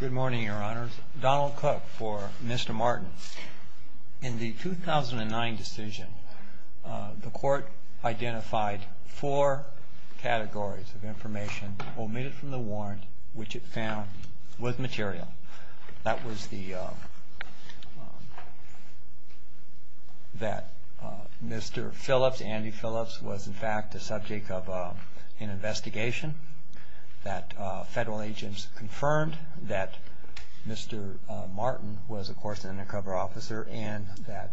Good morning, your honors. Donald Cook for Mr. Martin. In the 2009 decision, the court identified four categories of information omitted from the warrant, which it found was material. That was that Mr. Phillips, Andy Phillips, was in fact the subject of an investigation, that federal agents confirmed that Mr. Martin was of course an undercover officer, and that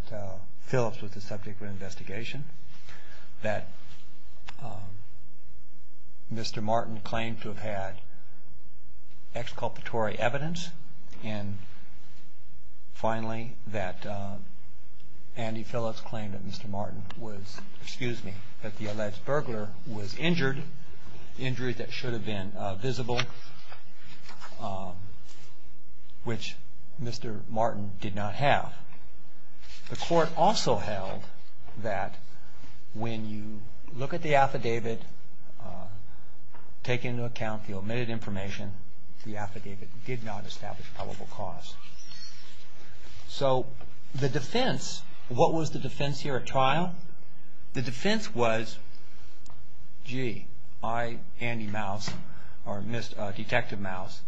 Phillips was the subject of an investigation. That Mr. Martin claimed to have had exculpatory evidence, and finally that Andy Phillips claimed that Mr. Martin was, excuse me, that the alleged burglar was injured, an injury that should have been visible, which Mr. Martin did not have. The court also held that when you look at the affidavit, take into account the omitted information, the affidavit did not establish probable cause. So the defense, what was the defense here at trial? The defense was, gee, I, Andy Mouse, or Detective Mouse,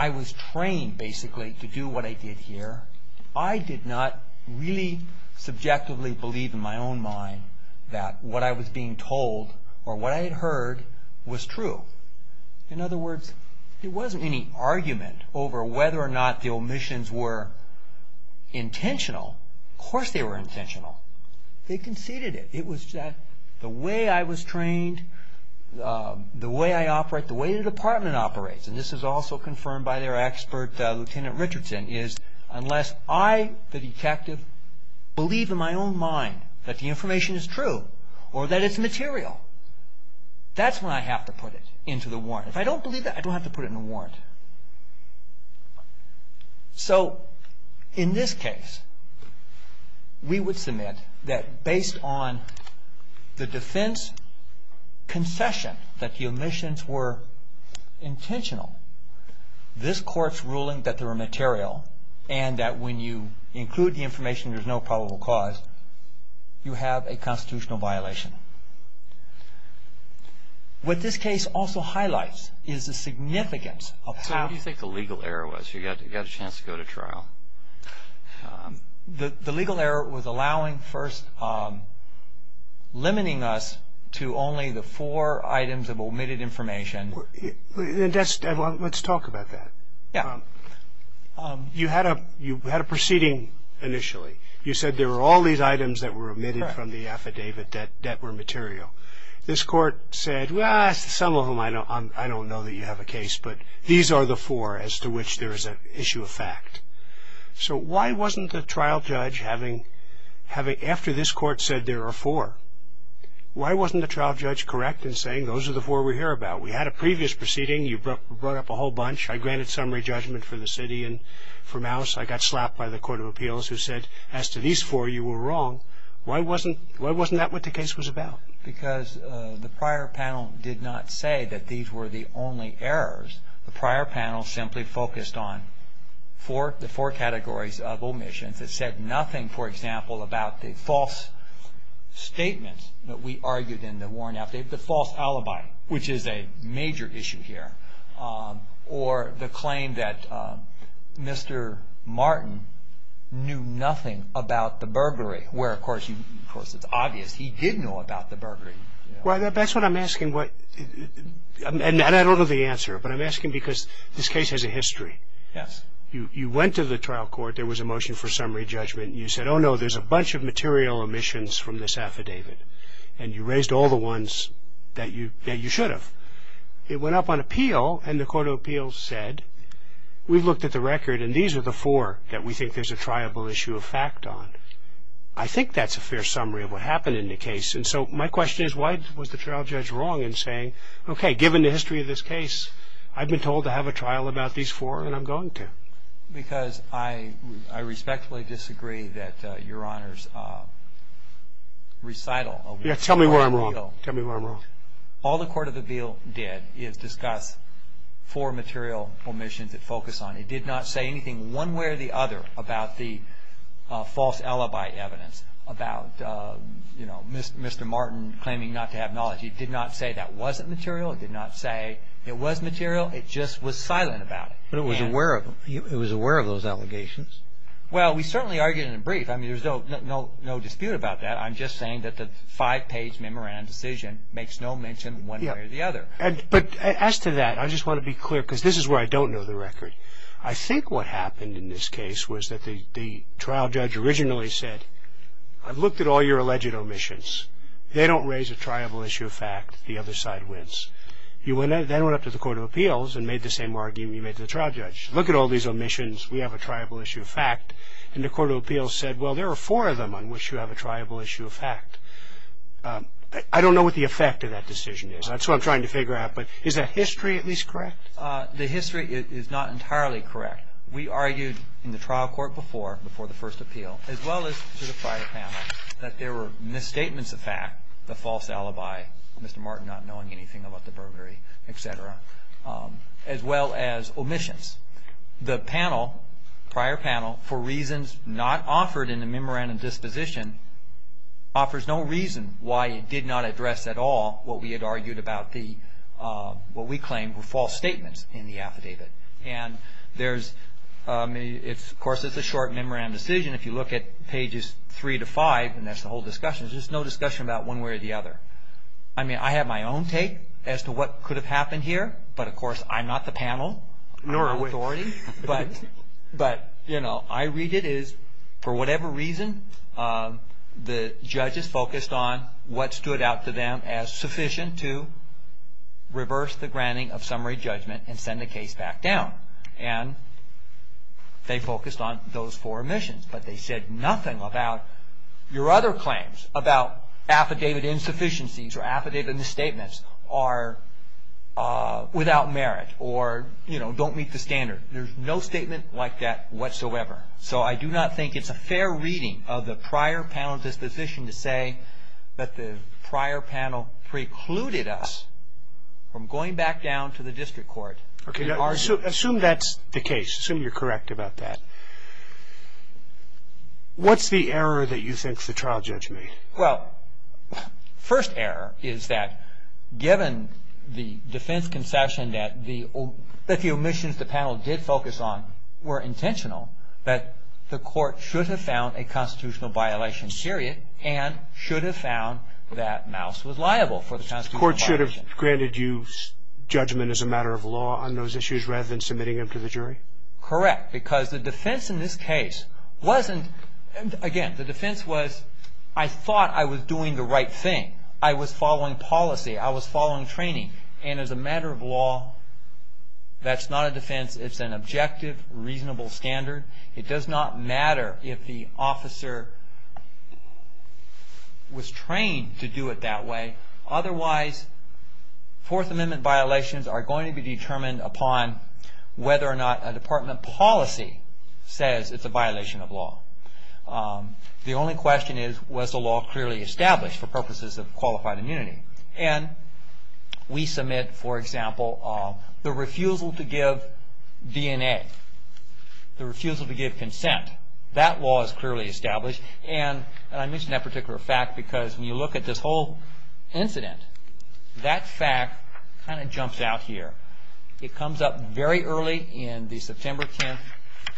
I was trained basically to do what I did here. I did not really subjectively believe in my own mind that what I was being told or what I had heard was true. In other words, there wasn't any argument over whether or not the omissions were intentional. Of course they were intentional. They conceded it. It was that the way I was trained, the way I operate, the way the department operates, and this is also confirmed by their expert, Lieutenant Richardson, is unless I, the detective, believe in my own mind that the information is true or that it's material, that's when I have to put it. If I don't believe that, I don't have to put it in a warrant. So in this case, we would submit that based on the defense concession that the omissions were intentional, this court's ruling that they were material and that when you include the information there's no probable cause, you have a constitutional violation. What this case also highlights is the significance of how… So what do you think the legal error was? You got a chance to go to trial. The legal error was allowing first, limiting us to only the four items of omitted information. Let's talk about that. Yeah. You had a proceeding initially. You said there were all these items that were omitted from the affidavit that were material. This court said, well, some of them I don't know that you have a case, but these are the four as to which there is an issue of fact. So why wasn't the trial judge, after this court said there are four, why wasn't the trial judge correct in saying those are the four we hear about? We had a previous proceeding. You brought up a whole bunch. I granted summary judgment for the city and for Mouse. I got slapped by the court of appeals who said as to these four, you were wrong. Why wasn't that what the case was about? Because the prior panel did not say that these were the only errors. The prior panel simply focused on the four categories of omissions. It said nothing, for example, about the false statements that we argued in the Warren affidavit, the false alibi, which is a major issue here, or the claim that Mr. Martin knew nothing about the burglary, where, of course, it's obvious he did know about the burglary. Well, that's what I'm asking. And I don't know the answer, but I'm asking because this case has a history. Yes. You went to the trial court. There was a motion for summary judgment. You said, oh, no, there's a bunch of material omissions from this affidavit. And you raised all the ones that you should have. It went up on appeal, and the court of appeals said, we've looked at the record, and these are the four that we think there's a triable issue of fact on. I think that's a fair summary of what happened in the case. And so my question is, why was the trial judge wrong in saying, okay, given the history of this case, I've been told to have a trial about these four, and I'm going to? Because I respectfully disagree that Your Honor's recital of the court of appeal. Yes, tell me where I'm wrong. Tell me where I'm wrong. All the court of appeal did is discuss four material omissions it focused on. It did not say anything one way or the other about the false alibi evidence about, you know, Mr. Martin claiming not to have knowledge. It did not say that wasn't material. It did not say it was material. It just was silent about it. But it was aware of them. It was aware of those allegations. Well, we certainly argued in a brief. I mean, there's no dispute about that. I'm just saying that the five-page memorandum decision makes no mention one way or the other. But as to that, I just want to be clear, because this is where I don't know the record. I think what happened in this case was that the trial judge originally said, I've looked at all your alleged omissions. They don't raise a triable issue of fact. The other side wins. They went up to the court of appeals and made the same argument you made to the trial judge. Look at all these omissions. We have a triable issue of fact. And the court of appeals said, well, there are four of them on which you have a triable issue of fact. I don't know what the effect of that decision is. That's what I'm trying to figure out. But is the history at least correct? The history is not entirely correct. We argued in the trial court before, before the first appeal, as well as to the prior panel, that there were misstatements of fact, the false alibi, Mr. Martin not knowing anything about the burglary, et cetera, as well as omissions. The panel, prior panel, for reasons not offered in the memorandum disposition, offers no reason why it did not address at all what we had argued about the, what we claimed were false statements in the affidavit. And there's, of course, it's a short memorandum decision. If you look at pages three to five, and that's the whole discussion, there's just no discussion about one way or the other. I mean, I have my own take as to what could have happened here. But, of course, I'm not the panel. Nor are we. But, you know, I read it as, for whatever reason, the judges focused on what stood out to them as sufficient to reverse the granting of summary judgment and send the case back down. And they focused on those four omissions. But they said nothing about your other claims, about affidavit insufficiencies or affidavit misstatements are without merit or, you know, don't meet the standard. There's no statement like that whatsoever. So I do not think it's a fair reading of the prior panel disposition to say that the prior panel precluded us from going back down to the district court and arguing. Okay. Now, assume that's the case. Assume you're correct about that. What's the error that you think the trial judge made? Well, first error is that given the defense concession that the omissions the panel did focus on were intentional, that the court should have found a constitutional violation serious and should have found that Mouse was liable for the constitutional violation. The court should have granted you judgment as a matter of law on those issues rather than submitting them to the jury? Correct. Because the defense in this case wasn't, again, the defense was I thought I was doing the right thing. I was following policy. I was following training. And as a matter of law, that's not a defense. It's an objective, reasonable standard. It does not matter if the officer was trained to do it that way. Otherwise, Fourth Amendment violations are going to be determined upon whether or not a department policy says it's a violation of law. The only question is, was the law clearly established for purposes of qualified immunity? And we submit, for example, the refusal to give DNA, the refusal to give consent. That law is clearly established. And I mention that particular fact because when you look at this whole incident, that fact kind of jumps out here. It comes up very early in the September 10,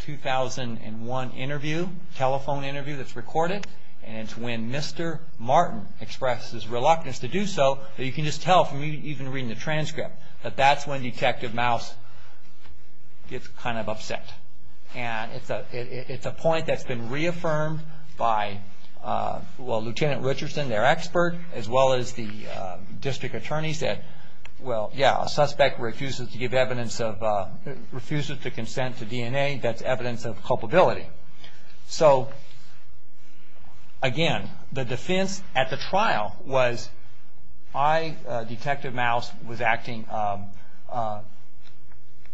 2001 interview, telephone interview that's recorded, and it's when Mr. Martin expresses reluctance to do so. You can just tell from even reading the transcript that that's when Detective Mouse gets kind of upset. And it's a point that's been reaffirmed by, well, Lieutenant Richardson, their expert, as well as the district attorneys that, well, yeah, a suspect refuses to give evidence of, refuses to consent to DNA, that's evidence of culpability. So, again, the defense at the trial was I, Detective Mouse, was acting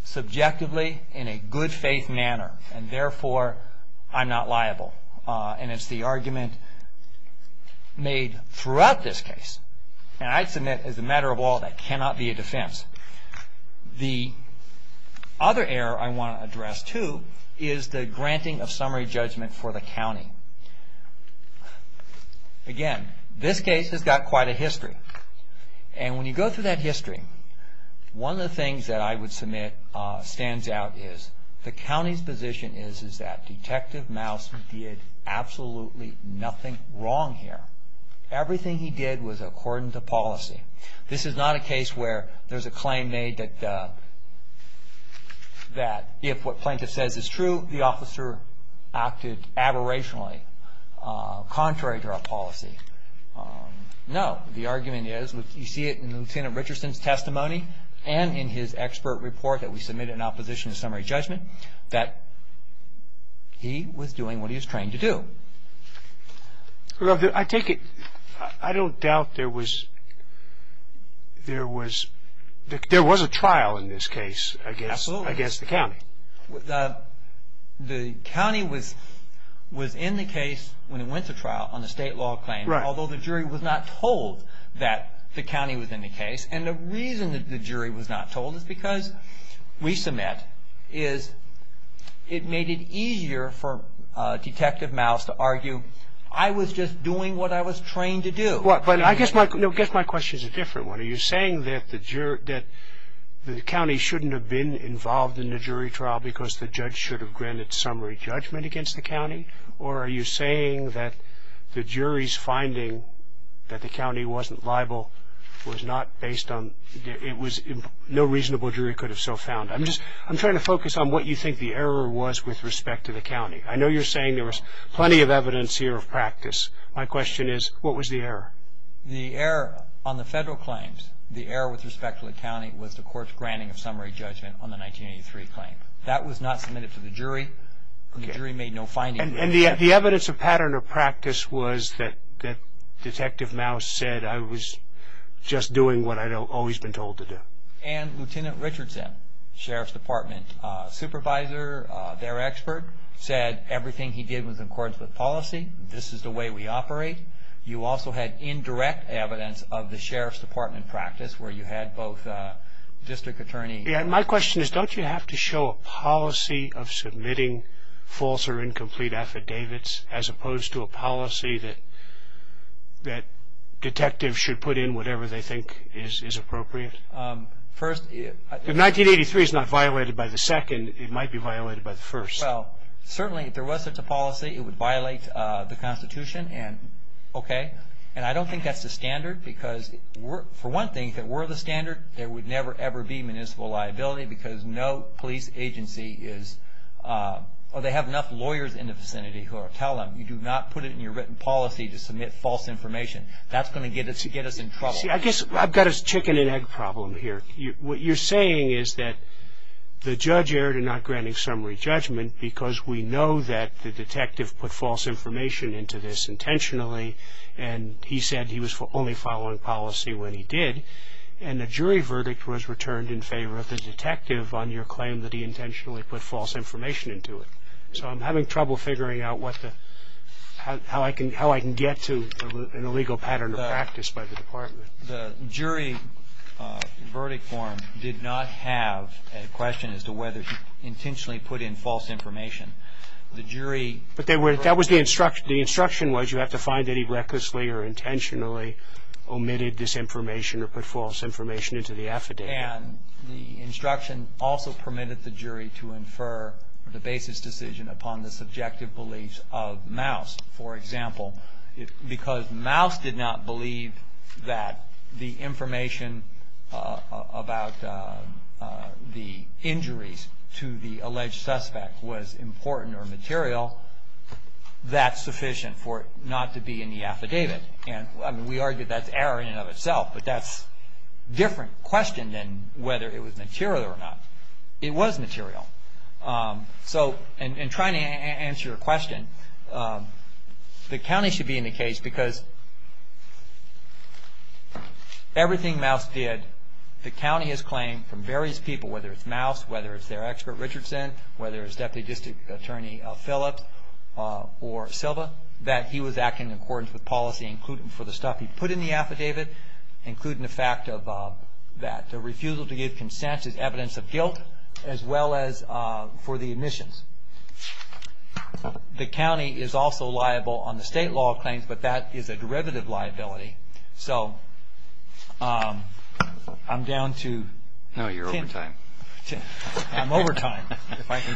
subjectively in a good faith manner, and therefore I'm not liable. And it's the argument made throughout this case. And I submit, as a matter of all, that cannot be a defense. The other error I want to address, too, is the granting of summary judgment for the county. Again, this case has got quite a history. And when you go through that history, one of the things that I would submit stands out is the county's position is that Detective Mouse did absolutely nothing wrong here. Everything he did was according to policy. This is not a case where there's a claim made that if what plaintiff says is true, the officer acted aberrationally, contrary to our policy. No, the argument is, you see it in Lieutenant Richardson's testimony and in his expert report that we submitted in opposition to summary judgment, that he was doing what he was trained to do. Well, I take it, I don't doubt there was a trial in this case against the county. Absolutely. The county was in the case when it went to trial on the state law claim, although the jury was not told that the county was in the case. And the reason that the jury was not told is because we submit is it made it easier for Detective Mouse to argue I was just doing what I was trained to do. I guess my question is a different one. Are you saying that the county shouldn't have been involved in the jury trial because the judge should have granted summary judgment against the county? Or are you saying that the jury's finding that the county wasn't liable was not based on, it was no reasonable jury could have so found. I'm trying to focus on what you think the error was with respect to the county. I know you're saying there was plenty of evidence here of practice. My question is, what was the error? The error on the federal claims, the error with respect to the county, was the court's granting of summary judgment on the 1983 claim. That was not submitted to the jury. The jury made no findings. And the evidence of pattern of practice was that Detective Mouse said I was just doing what I'd always been told to do. And Lieutenant Richardson, Sheriff's Department supervisor, their expert, said everything he did was in accordance with policy. This is the way we operate. You also had indirect evidence of the Sheriff's Department practice where you had both district attorneys. My question is, don't you have to show a policy of submitting false or incomplete affidavits as opposed to a policy that detectives should put in whatever they think is appropriate? If 1983 is not violated by the second, it might be violated by the first. Certainly, if there was such a policy, it would violate the Constitution. And I don't think that's the standard. For one thing, if it were the standard, there would never, ever be municipal liability because no police agency is, or they have enough lawyers in the vicinity who will tell them, you do not put it in your written policy to submit false information. That's going to get us in trouble. See, I guess I've got a chicken and egg problem here. What you're saying is that the judge erred in not granting summary judgment because we know that the detective put false information into this intentionally and he said he was only following policy when he did. And the jury verdict was returned in favor of the detective on your claim that he intentionally put false information into it. So I'm having trouble figuring out how I can get to an illegal pattern of practice by the department. The jury verdict form did not have a question as to whether he intentionally put in false information. But that was the instruction. The instruction was you have to find that he recklessly or intentionally omitted this information or put false information into the affidavit. And the instruction also permitted the jury to infer the basis decision upon the subjective beliefs of Maus. For example, because Maus did not believe that the information about the injuries to the alleged suspect was important or material, that's sufficient for it not to be in the affidavit. And we argue that's error in and of itself. But that's a different question than whether it was material or not. It was material. So in trying to answer your question, the county should be in the case because everything Maus did, the county has claimed from various people, whether it's Maus, whether it's their expert Richardson, whether it's Deputy District Attorney Phillips or Silva, that he was acting in accordance with policy for the stuff he put in the affidavit, including the fact that the refusal to give consent is evidence of guilt, as well as for the admissions. The county is also liable on the state law claims, but that is a derivative liability. So I'm down to Tim. No, you're over time. I'm over time.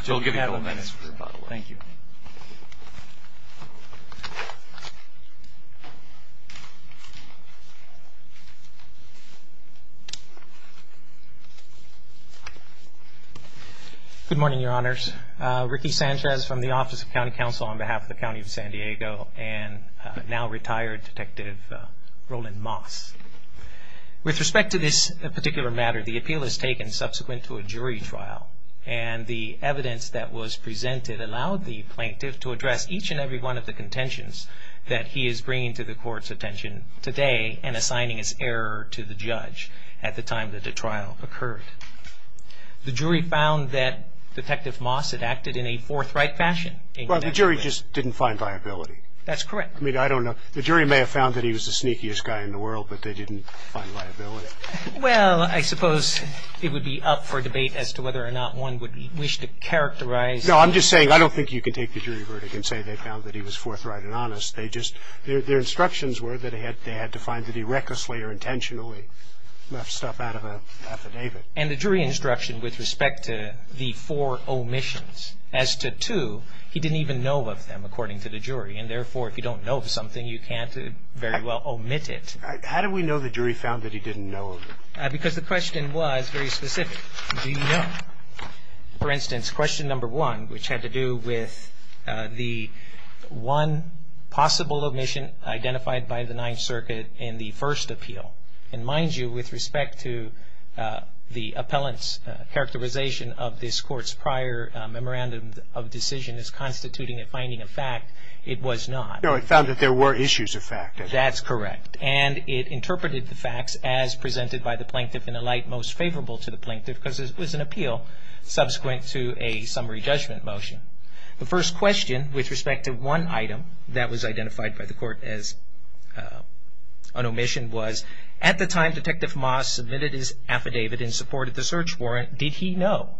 We'll give you a couple of minutes. Thank you. Good morning, Your Honors. Ricky Sanchez from the Office of County Counsel on behalf of the County of San Diego and now retired Detective Roland Maus. With respect to this particular matter, the appeal is taken subsequent to a jury trial. And the evidence that was presented allowed the plaintiff to address each and every one of the contentions that he is bringing to the court's attention today and assigning as error to the judge at the time that the trial occurred. The jury found that Detective Maus had acted in a forthright fashion. Well, the jury just didn't find liability. That's correct. I mean, I don't know. The jury may have found that he was the sneakiest guy in the world, but they didn't find liability. Well, I suppose it would be up for debate as to whether or not one would wish to characterize. No, I'm just saying I don't think you can take the jury verdict and say they found that he was forthright and honest. They just – their instructions were that they had to find that he recklessly or intentionally left stuff out of an affidavit. And the jury instruction with respect to the four omissions as to two, he didn't even know of them according to the jury. And therefore, if you don't know of something, you can't very well omit it. How do we know the jury found that he didn't know of them? Because the question was very specific. Do you know? For instance, question number one, which had to do with the one possible omission identified by the Ninth Circuit in the first appeal. And mind you, with respect to the appellant's characterization of this court's prior memorandum of decision as constituting a finding of fact, it was not. No, it found that there were issues of fact. That's correct. And it interpreted the facts as presented by the plaintiff in a light most favorable to the plaintiff because it was an appeal subsequent to a summary judgment motion. The first question with respect to one item that was identified by the court as an omission was, at the time Detective Moss submitted his affidavit in support of the search warrant, did he know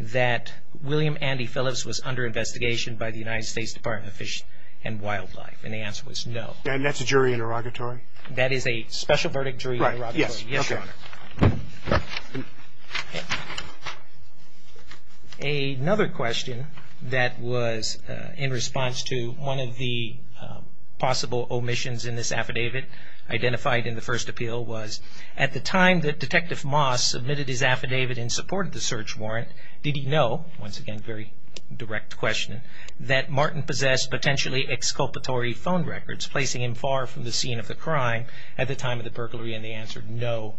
that William Andy Phillips was under investigation by the United States Department of Fish and Wildlife? And the answer was no. And that's a jury interrogatory? That is a special verdict jury interrogatory. Right. Yes. Yes, Your Honor. Another question that was in response to one of the possible omissions in this affidavit identified in the first appeal was, at the time that Detective Moss submitted his affidavit in support of the search warrant, did he know, once again, very direct question, that Martin possessed potentially exculpatory phone records placing him far from the scene of the crime at the time of the burglary? And the answer, no,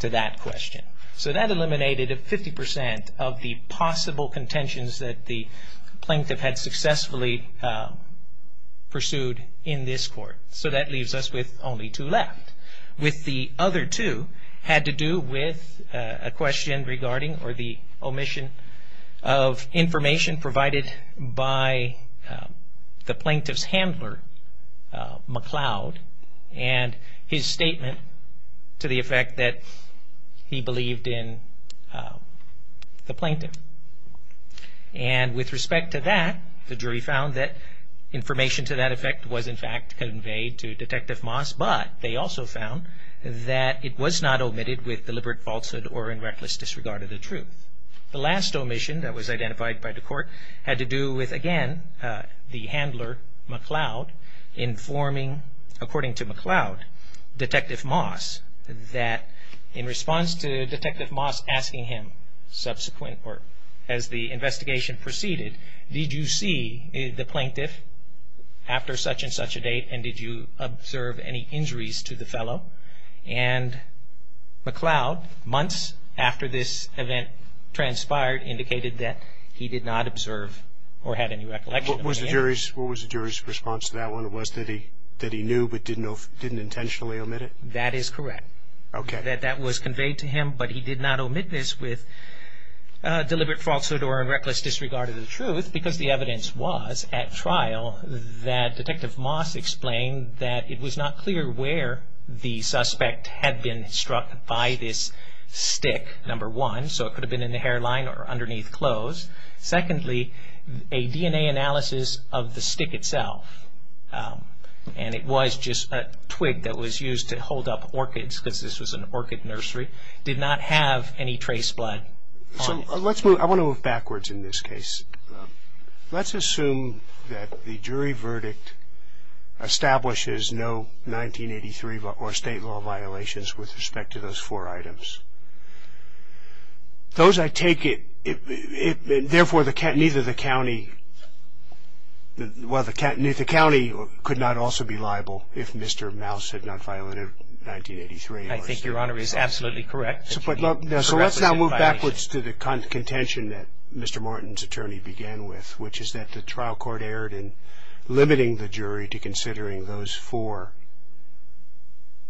to that question. So that eliminated 50% of the possible contentions that the plaintiff had successfully pursued in this court. So that leaves us with only two left. With the other two had to do with a question regarding or the omission of information provided by the plaintiff's handler, McLeod, and his statement to the effect that he believed in the plaintiff. And with respect to that, the jury found that information to that effect was in fact conveyed to Detective Moss, but they also found that it was not omitted with deliberate falsehood or in reckless disregard of the truth. The last omission that was identified by the court had to do with, again, the handler, McLeod, informing, according to McLeod, Detective Moss that in response to Detective Moss asking him subsequent, or as the investigation proceeded, did you see the plaintiff after such and such a date and did you observe any injuries to the fellow? And McLeod, months after this event transpired, indicated that he did not observe or had any recollection. What was the jury's response to that one? It was that he knew but didn't intentionally omit it? That is correct. Okay. That that was conveyed to him, but he did not omit this with deliberate falsehood or in reckless disregard of the truth because the evidence was at trial that Detective Moss explained that it was not clear where the suspect had been struck by this stick, number one, so it could have been in the hairline or underneath clothes. Secondly, a DNA analysis of the stick itself, and it was just a twig that was used to hold up orchids because this was an orchid nursery, did not have any trace blood on it. I want to move backwards in this case. Let's assume that the jury verdict establishes no 1983 or state law violations with respect to those four items. Those I take it, therefore, neither the county, well, the county could not also be liable if Mr. Mouse had not violated 1983. I think Your Honor is absolutely correct. So let's now move backwards to the contention that Mr. Morton's attorney began with, which is that the trial court erred in limiting the jury to considering those four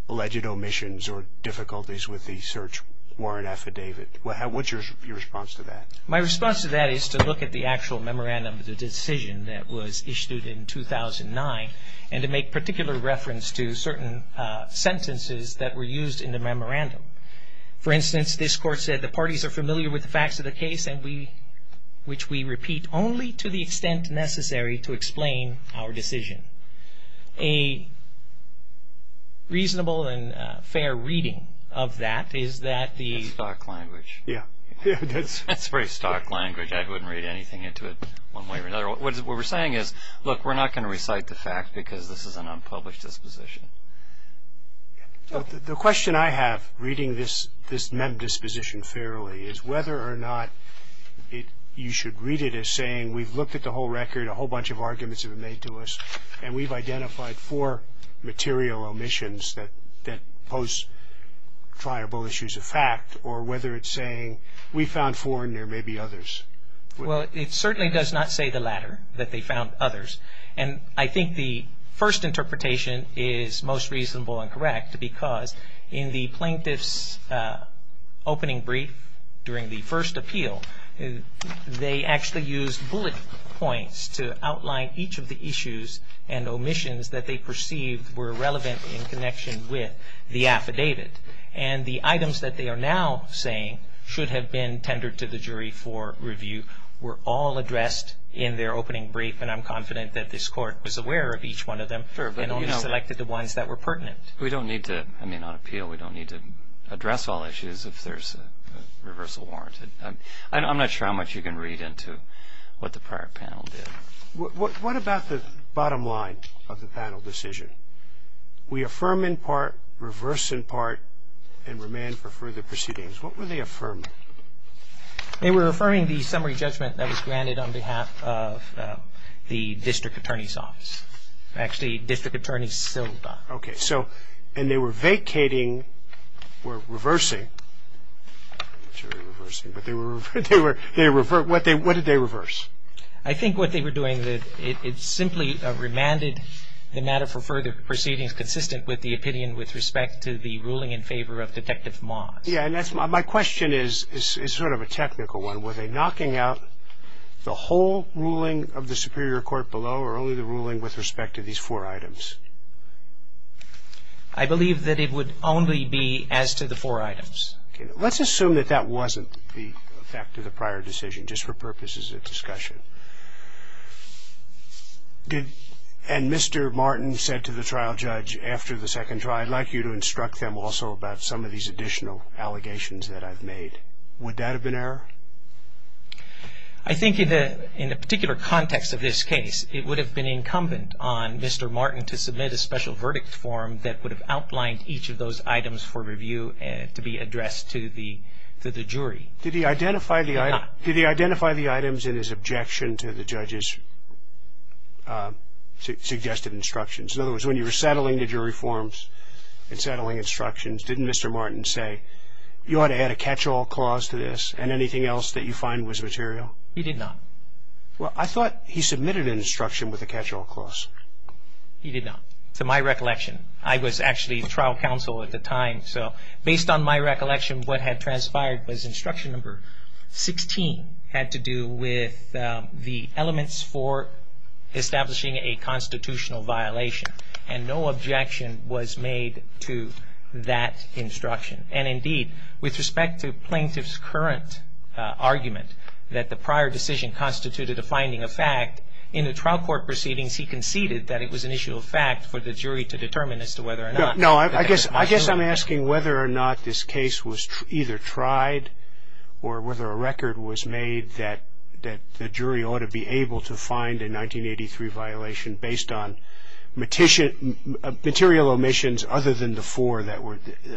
alleged omissions or difficulties with the search warrant affidavit. What's your response to that? My response to that is to look at the actual memorandum of the decision that was issued in 2009 and to make particular reference to certain sentences that were used in the memorandum. For instance, this court said the parties are familiar with the facts of the case which we repeat only to the extent necessary to explain our decision. A reasonable and fair reading of that is that the That's stock language. Yeah. That's very stock language. I wouldn't read anything into it one way or another. What we're saying is, look, we're not going to recite the fact because this is an unpublished disposition. The question I have reading this mem disposition fairly is whether or not you should read it as saying we've looked at the whole record, a whole bunch of arguments have been made to us, and we've identified four material omissions that pose triable issues of fact or whether it's saying we found four and there may be others. Well, it certainly does not say the latter, that they found others. And I think the first interpretation is most reasonable and correct because in the plaintiff's opening brief during the first appeal, they actually used bullet points to outline each of the issues and omissions that they perceived were relevant in connection with the affidavit. And the items that they are now saying should have been tendered to the jury for review were all addressed in their opening brief. And I'm confident that this Court was aware of each one of them and only selected the ones that were pertinent. We don't need to. I mean, on appeal, we don't need to address all issues if there's a reversal warrant. I'm not sure how much you can read into what the prior panel did. What about the bottom line of the panel decision? We affirm in part, reverse in part, and remain for further proceedings. What were they affirming? They were affirming the summary judgment that was granted on behalf of the District Attorney's Office. Actually, District Attorney Silva. Okay. And they were vacating or reversing. I'm not sure they were reversing. What did they reverse? I think what they were doing, it simply remanded the matter for further proceedings consistent with the opinion with respect to the ruling in favor of Detective Moss. Yeah, and my question is sort of a technical one. Were they knocking out the whole ruling of the Superior Court below or only the ruling with respect to these four items? I believe that it would only be as to the four items. Okay. Let's assume that that wasn't the effect of the prior decision, just for purpose as a discussion. And Mr. Martin said to the trial judge after the second trial, I'd like you to instruct them also about some of these additional allegations that I've made. Would that have been error? I think in a particular context of this case, it would have been incumbent on Mr. Martin to submit a special verdict form that would have outlined each of those items for review to be addressed to the jury. Did he identify the items in his objection to the judge's suggested instructions? In other words, when you were settling the jury forms and settling instructions, didn't Mr. Martin say you ought to add a catch-all clause to this and anything else that you find was material? He did not. Well, I thought he submitted an instruction with a catch-all clause. He did not. To my recollection, I was actually the trial counsel at the time, so based on my recollection, what had transpired was instruction number 16 had to do with the elements for establishing a constitutional violation, and no objection was made to that instruction. And indeed, with respect to plaintiff's current argument that the prior decision constituted a finding of fact, in the trial court proceedings he conceded that it was an issue of fact for the jury to determine as to whether or not. No, I guess I'm asking whether or not this case was either tried or whether a record was made that the jury ought to be able to find a 1983 violation based on material omissions other than the four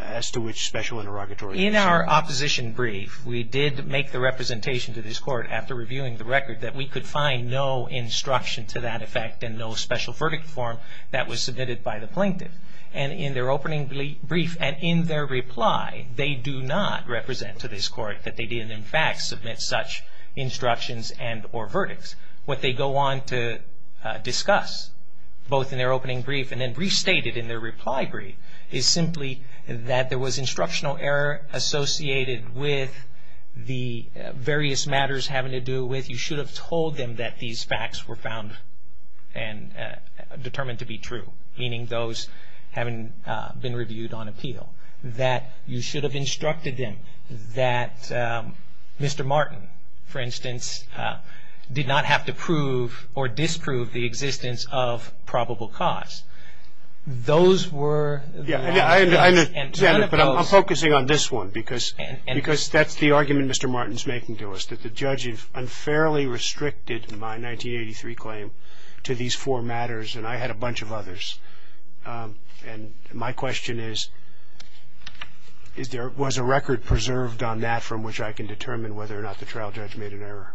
as to which special interrogatory was used. In our opposition brief, we did make the representation to this court after reviewing the record that we could find no instruction to that effect and no special verdict form that was submitted by the plaintiff. And in their opening brief and in their reply, they do not represent to this court that they did in fact submit such instructions and or verdicts. What they go on to discuss, both in their opening brief and then restated in their reply brief, is simply that there was instructional error associated with the various matters having to do with you should have told them that these facts were found and determined to be true, meaning those having been reviewed on appeal. That you should have instructed them that Mr. Martin, for instance, did not have to prove or disprove the existence of probable cause. Those were the matters. I'm focusing on this one because that's the argument Mr. Martin is making to us, that the judge has unfairly restricted my 1983 claim to these four matters and I had a bunch of others. And my question is, was a record preserved on that from which I can determine whether or not the trial judge made an error?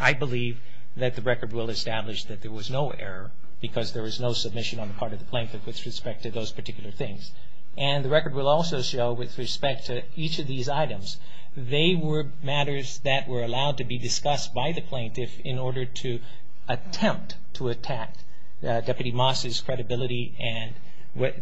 I believe that the record will establish that there was no error because there was no submission on the part of the plaintiff with respect to those particular things. And the record will also show with respect to each of these items, they were matters that were allowed to be discussed by the plaintiff in order to attempt to attack Deputy Moss's credibility and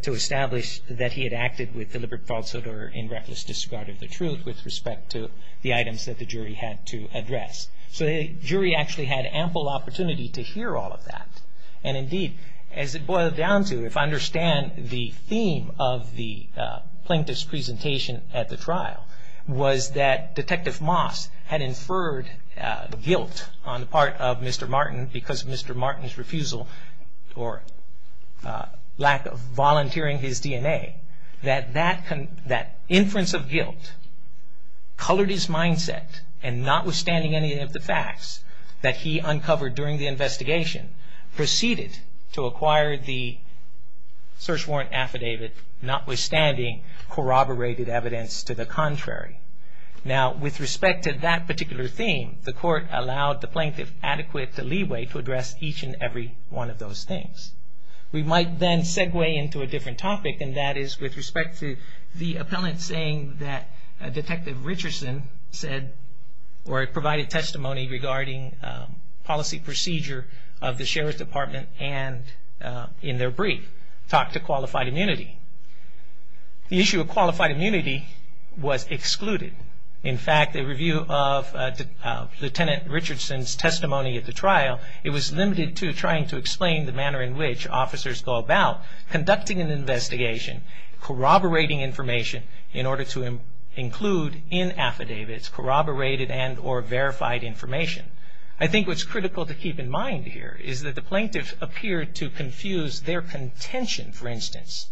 to establish that he had acted with deliberate falsehood or in reckless disregard of the truth with respect to the items that the jury had to address. So the jury actually had ample opportunity to hear all of that. And indeed, as it boiled down to, if I understand the theme of the plaintiff's presentation at the trial, was that Detective Moss had inferred guilt on the part of Mr. Martin because of Mr. Martin's refusal or lack of volunteering his DNA. That inference of guilt colored his mindset and notwithstanding any of the facts that he uncovered during the investigation, proceeded to acquire the search warrant affidavit, notwithstanding corroborated evidence to the contrary. Now, with respect to that particular theme, the court allowed the plaintiff adequate leeway to address each and every one of those things. We might then segue into a different topic, and that is with respect to the appellant saying that Detective Richardson said or provided testimony regarding policy procedure of the Sheriff's Department and in their brief talked to qualified immunity. The issue of qualified immunity was excluded. In fact, the review of Lieutenant Richardson's testimony at the trial, it was limited to trying to explain the manner in which officers go about conducting an investigation, corroborating information in order to include in affidavits corroborated and or verified information. I think what's critical to keep in mind here is that the plaintiff appeared to confuse their contention, for instance,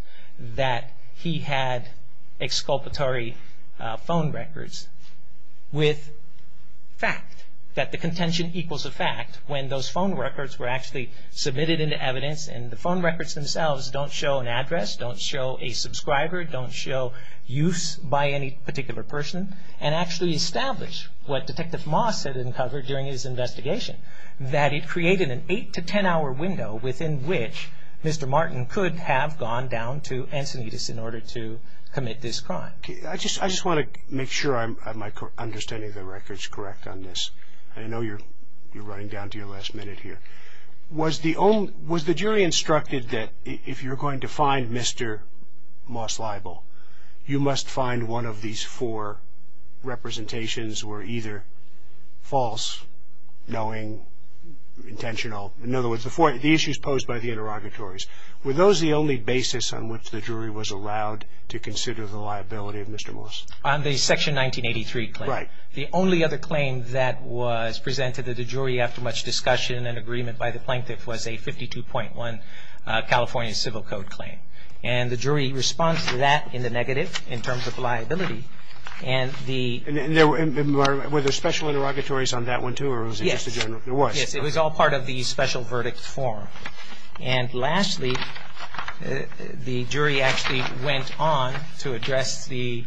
that he had exculpatory phone records with fact, that the contention equals a fact when those phone records were actually submitted into evidence and the phone records themselves don't show an address, don't show a subscriber, don't show use by any particular person, and actually establish what Detective Moss had uncovered during his investigation, that it created an eight to ten hour window within which Mr. Martin could have gone down to Encinitas in order to commit this crime. I just want to make sure I'm understanding the records correct on this. I know you're running down to your last minute here. Was the jury instructed that if you're going to find Mr. Moss liable, you must find one of these four representations were either false, knowing, intentional? In other words, the issues posed by the interrogatories. Were those the only basis on which the jury was allowed to consider the liability of Mr. Moss? On the Section 1983 claim. Right. The only other claim that was presented to the jury after much discussion and agreement by the plaintiff was a 52.1 California Civil Code claim. And the jury responds to that in the negative in terms of liability. And were there special interrogatories on that one too or was it just a general? Yes. Yes, it was all part of the special verdict form. And lastly, the jury actually went on to address the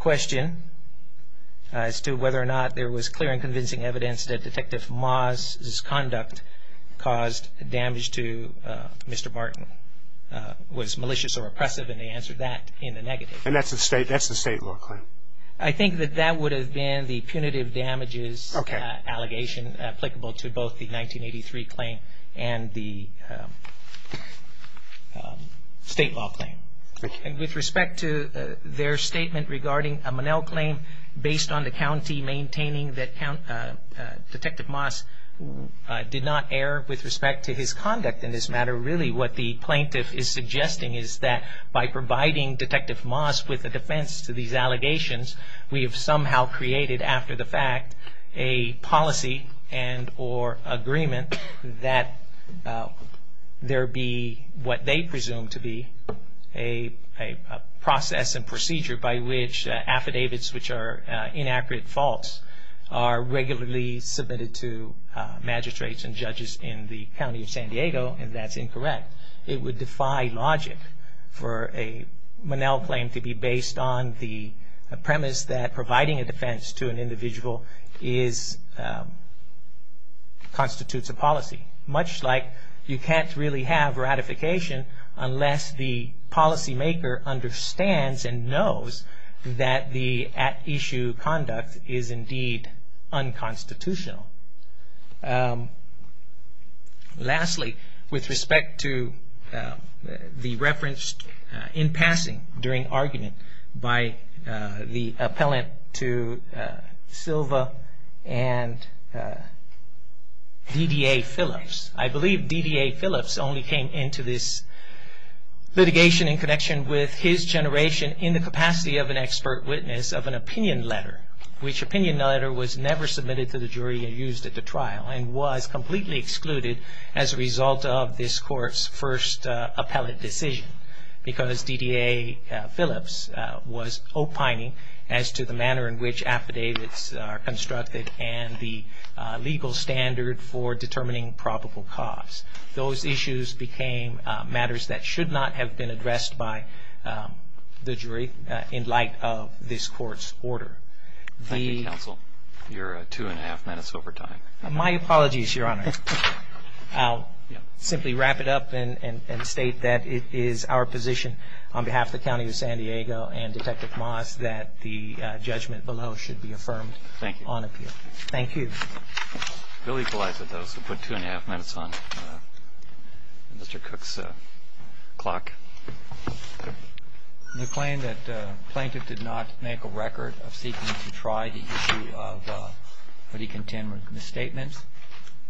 question as to whether or not there was clear and convincing evidence that Detective Moss' conduct caused damage to Mr. Martin. Was malicious or oppressive and they answered that in the negative. And that's the state law claim? I think that that would have been the punitive damages allegation applicable to both the 1983 claim and the state law claim. And with respect to their statement regarding a Monell claim based on the county and maintaining that Detective Moss did not err with respect to his conduct in this matter, really what the plaintiff is suggesting is that by providing Detective Moss with a defense to these allegations, we have somehow created after the fact a policy and or agreement that there be what they presume to be a process and procedure by which affidavits which are inaccurate, false, are regularly submitted to magistrates and judges in the county of San Diego and that's incorrect. It would defy logic for a Monell claim to be based on the premise that providing a defense to an individual constitutes a policy. Much like you can't really have ratification unless the policymaker understands and knows that the at issue conduct is indeed unconstitutional. Lastly, with respect to the reference in passing during argument by the appellant to Silva and DDA Phillips. I believe DDA Phillips only came into this litigation in connection with his generation in the capacity of an expert witness of an opinion letter, which opinion letter was never submitted to the jury and used at the trial and was completely excluded as a result of this court's first appellate decision because DDA Phillips was opining as to the manner in which affidavits are constructed and the legal standard for determining probable cause. Those issues became matters that should not have been addressed by the jury in light of this court's order. Thank you, counsel. You're two and a half minutes over time. My apologies, your honor. I'll simply wrap it up and state that it is our position on behalf of the county of San Diego and Detective Moss that the judgment below should be affirmed on appeal. Thank you. We'll equalize it, though, so put two and a half minutes on Mr. Cook's clock. The claim that the plaintiff did not make a record of seeking to try the issue of misstatements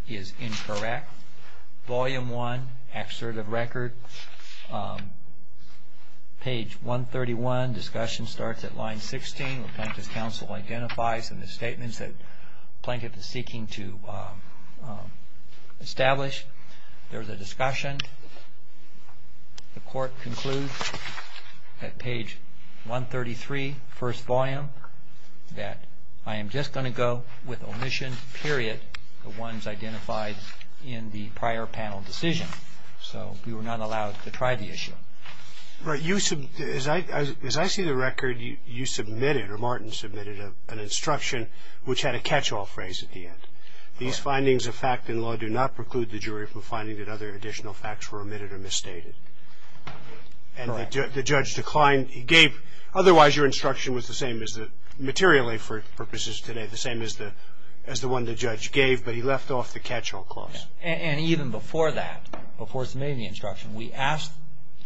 is incorrect. Volume 1, excerpt of record, page 131, discussion starts at line 16. The plaintiff's counsel identifies the misstatements that the plaintiff is seeking to establish. There is a discussion. And the court concludes at page 133, first volume, that I am just going to go with omission, period, the ones identified in the prior panel decision. So we were not allowed to try the issue. Right. As I see the record, you submitted, or Martin submitted, an instruction which had a catch-all phrase at the end. These findings of fact in law do not preclude the jury from finding that other additional facts were omitted or misstated. And the judge declined. Otherwise, your instruction was the same materially for purposes today, the same as the one the judge gave, but he left off the catch-all clause. And even before that, before submitting the instruction, we asked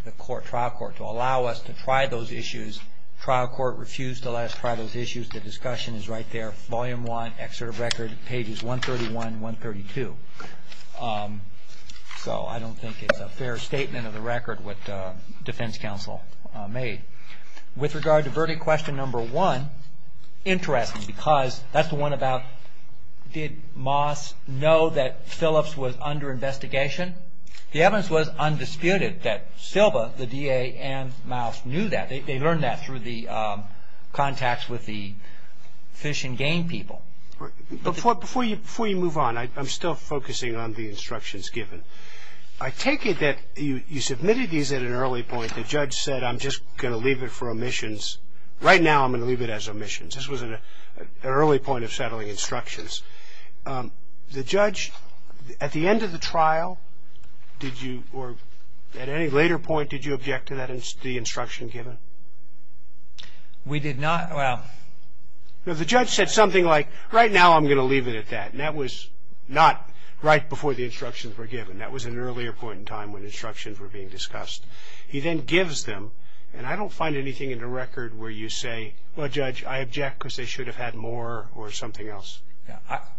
the trial court to allow us to try those issues. Trial court refused to let us try those issues. The discussion is right there. Volume one, excerpt of record, pages 131 and 132. So I don't think it's a fair statement of the record what defense counsel made. With regard to verdict question number one, interesting, because that's the one about, did Moss know that Phillips was under investigation? The evidence was undisputed that Silva, the DA, and Moss knew that. They learned that through the contacts with the Fish and Game people. Before you move on, I'm still focusing on the instructions given. I take it that you submitted these at an early point. The judge said, I'm just going to leave it for omissions. Right now, I'm going to leave it as omissions. This was an early point of settling instructions. The judge, at the end of the trial, did you, or at any later point, did you object to the instruction given? We did not. The judge said something like, right now I'm going to leave it at that. And that was not right before the instructions were given. That was an earlier point in time when instructions were being discussed. He then gives them, and I don't find anything in the record where you say, Well, Judge, I object because they should have had more or something else.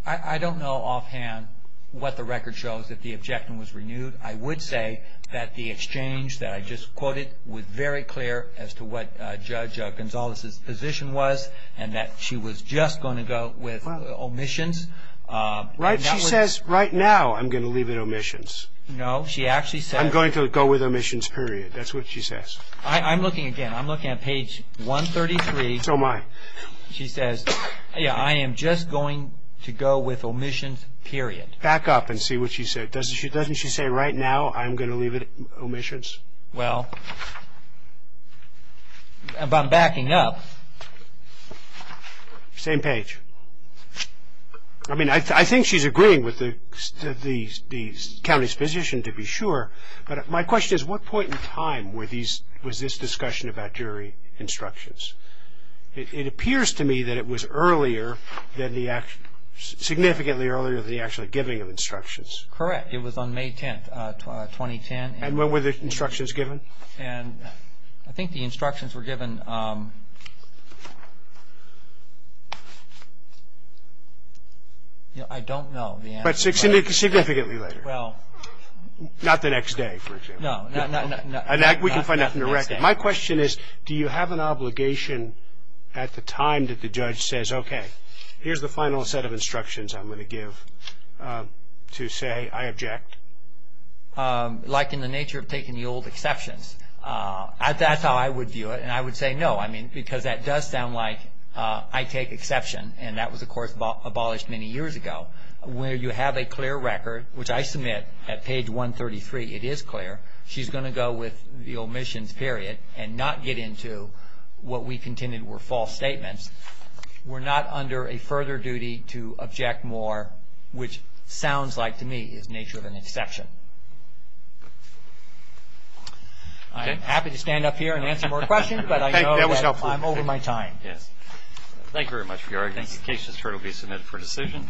I don't know offhand what the record shows, if the objection was renewed. I would say that the exchange that I just quoted was very clear as to what Judge Gonzalez's position was, and that she was just going to go with omissions. She says, right now, I'm going to leave it omissions. No, she actually says, I'm going to go with omissions, period. That's what she says. I'm looking again. I'm looking at page 133. Oh, my. She says, I am just going to go with omissions, period. Back up and see what she said. Doesn't she say, right now, I'm going to leave it omissions? Well, if I'm backing up. Same page. I mean, I think she's agreeing with the county's position, to be sure, but my question is, what point in time was this discussion about jury instructions? It appears to me that it was earlier, significantly earlier than the actual giving of instructions. Correct. It was on May 10th, 2010. And when were the instructions given? I think the instructions were given, I don't know. But significantly later. Well. Not the next day, for example. No. We can find that in the record. My question is, do you have an obligation at the time that the judge says, okay, here's the final set of instructions I'm going to give to say I object? Like in the nature of taking the old exceptions. That's how I would view it, and I would say no, I mean, because that does sound like I take exception, and that was, of course, abolished many years ago, where you have a clear record, which I submit at page 133, it is clear. She's going to go with the omissions, period, and not get into what we contended were false statements. We're not under a further duty to object more, which sounds like to me is nature of an exception. I'm happy to stand up here and answer more questions, but I know that I'm over my time. Thank you very much for your arguments. This case is currently submitted for decision.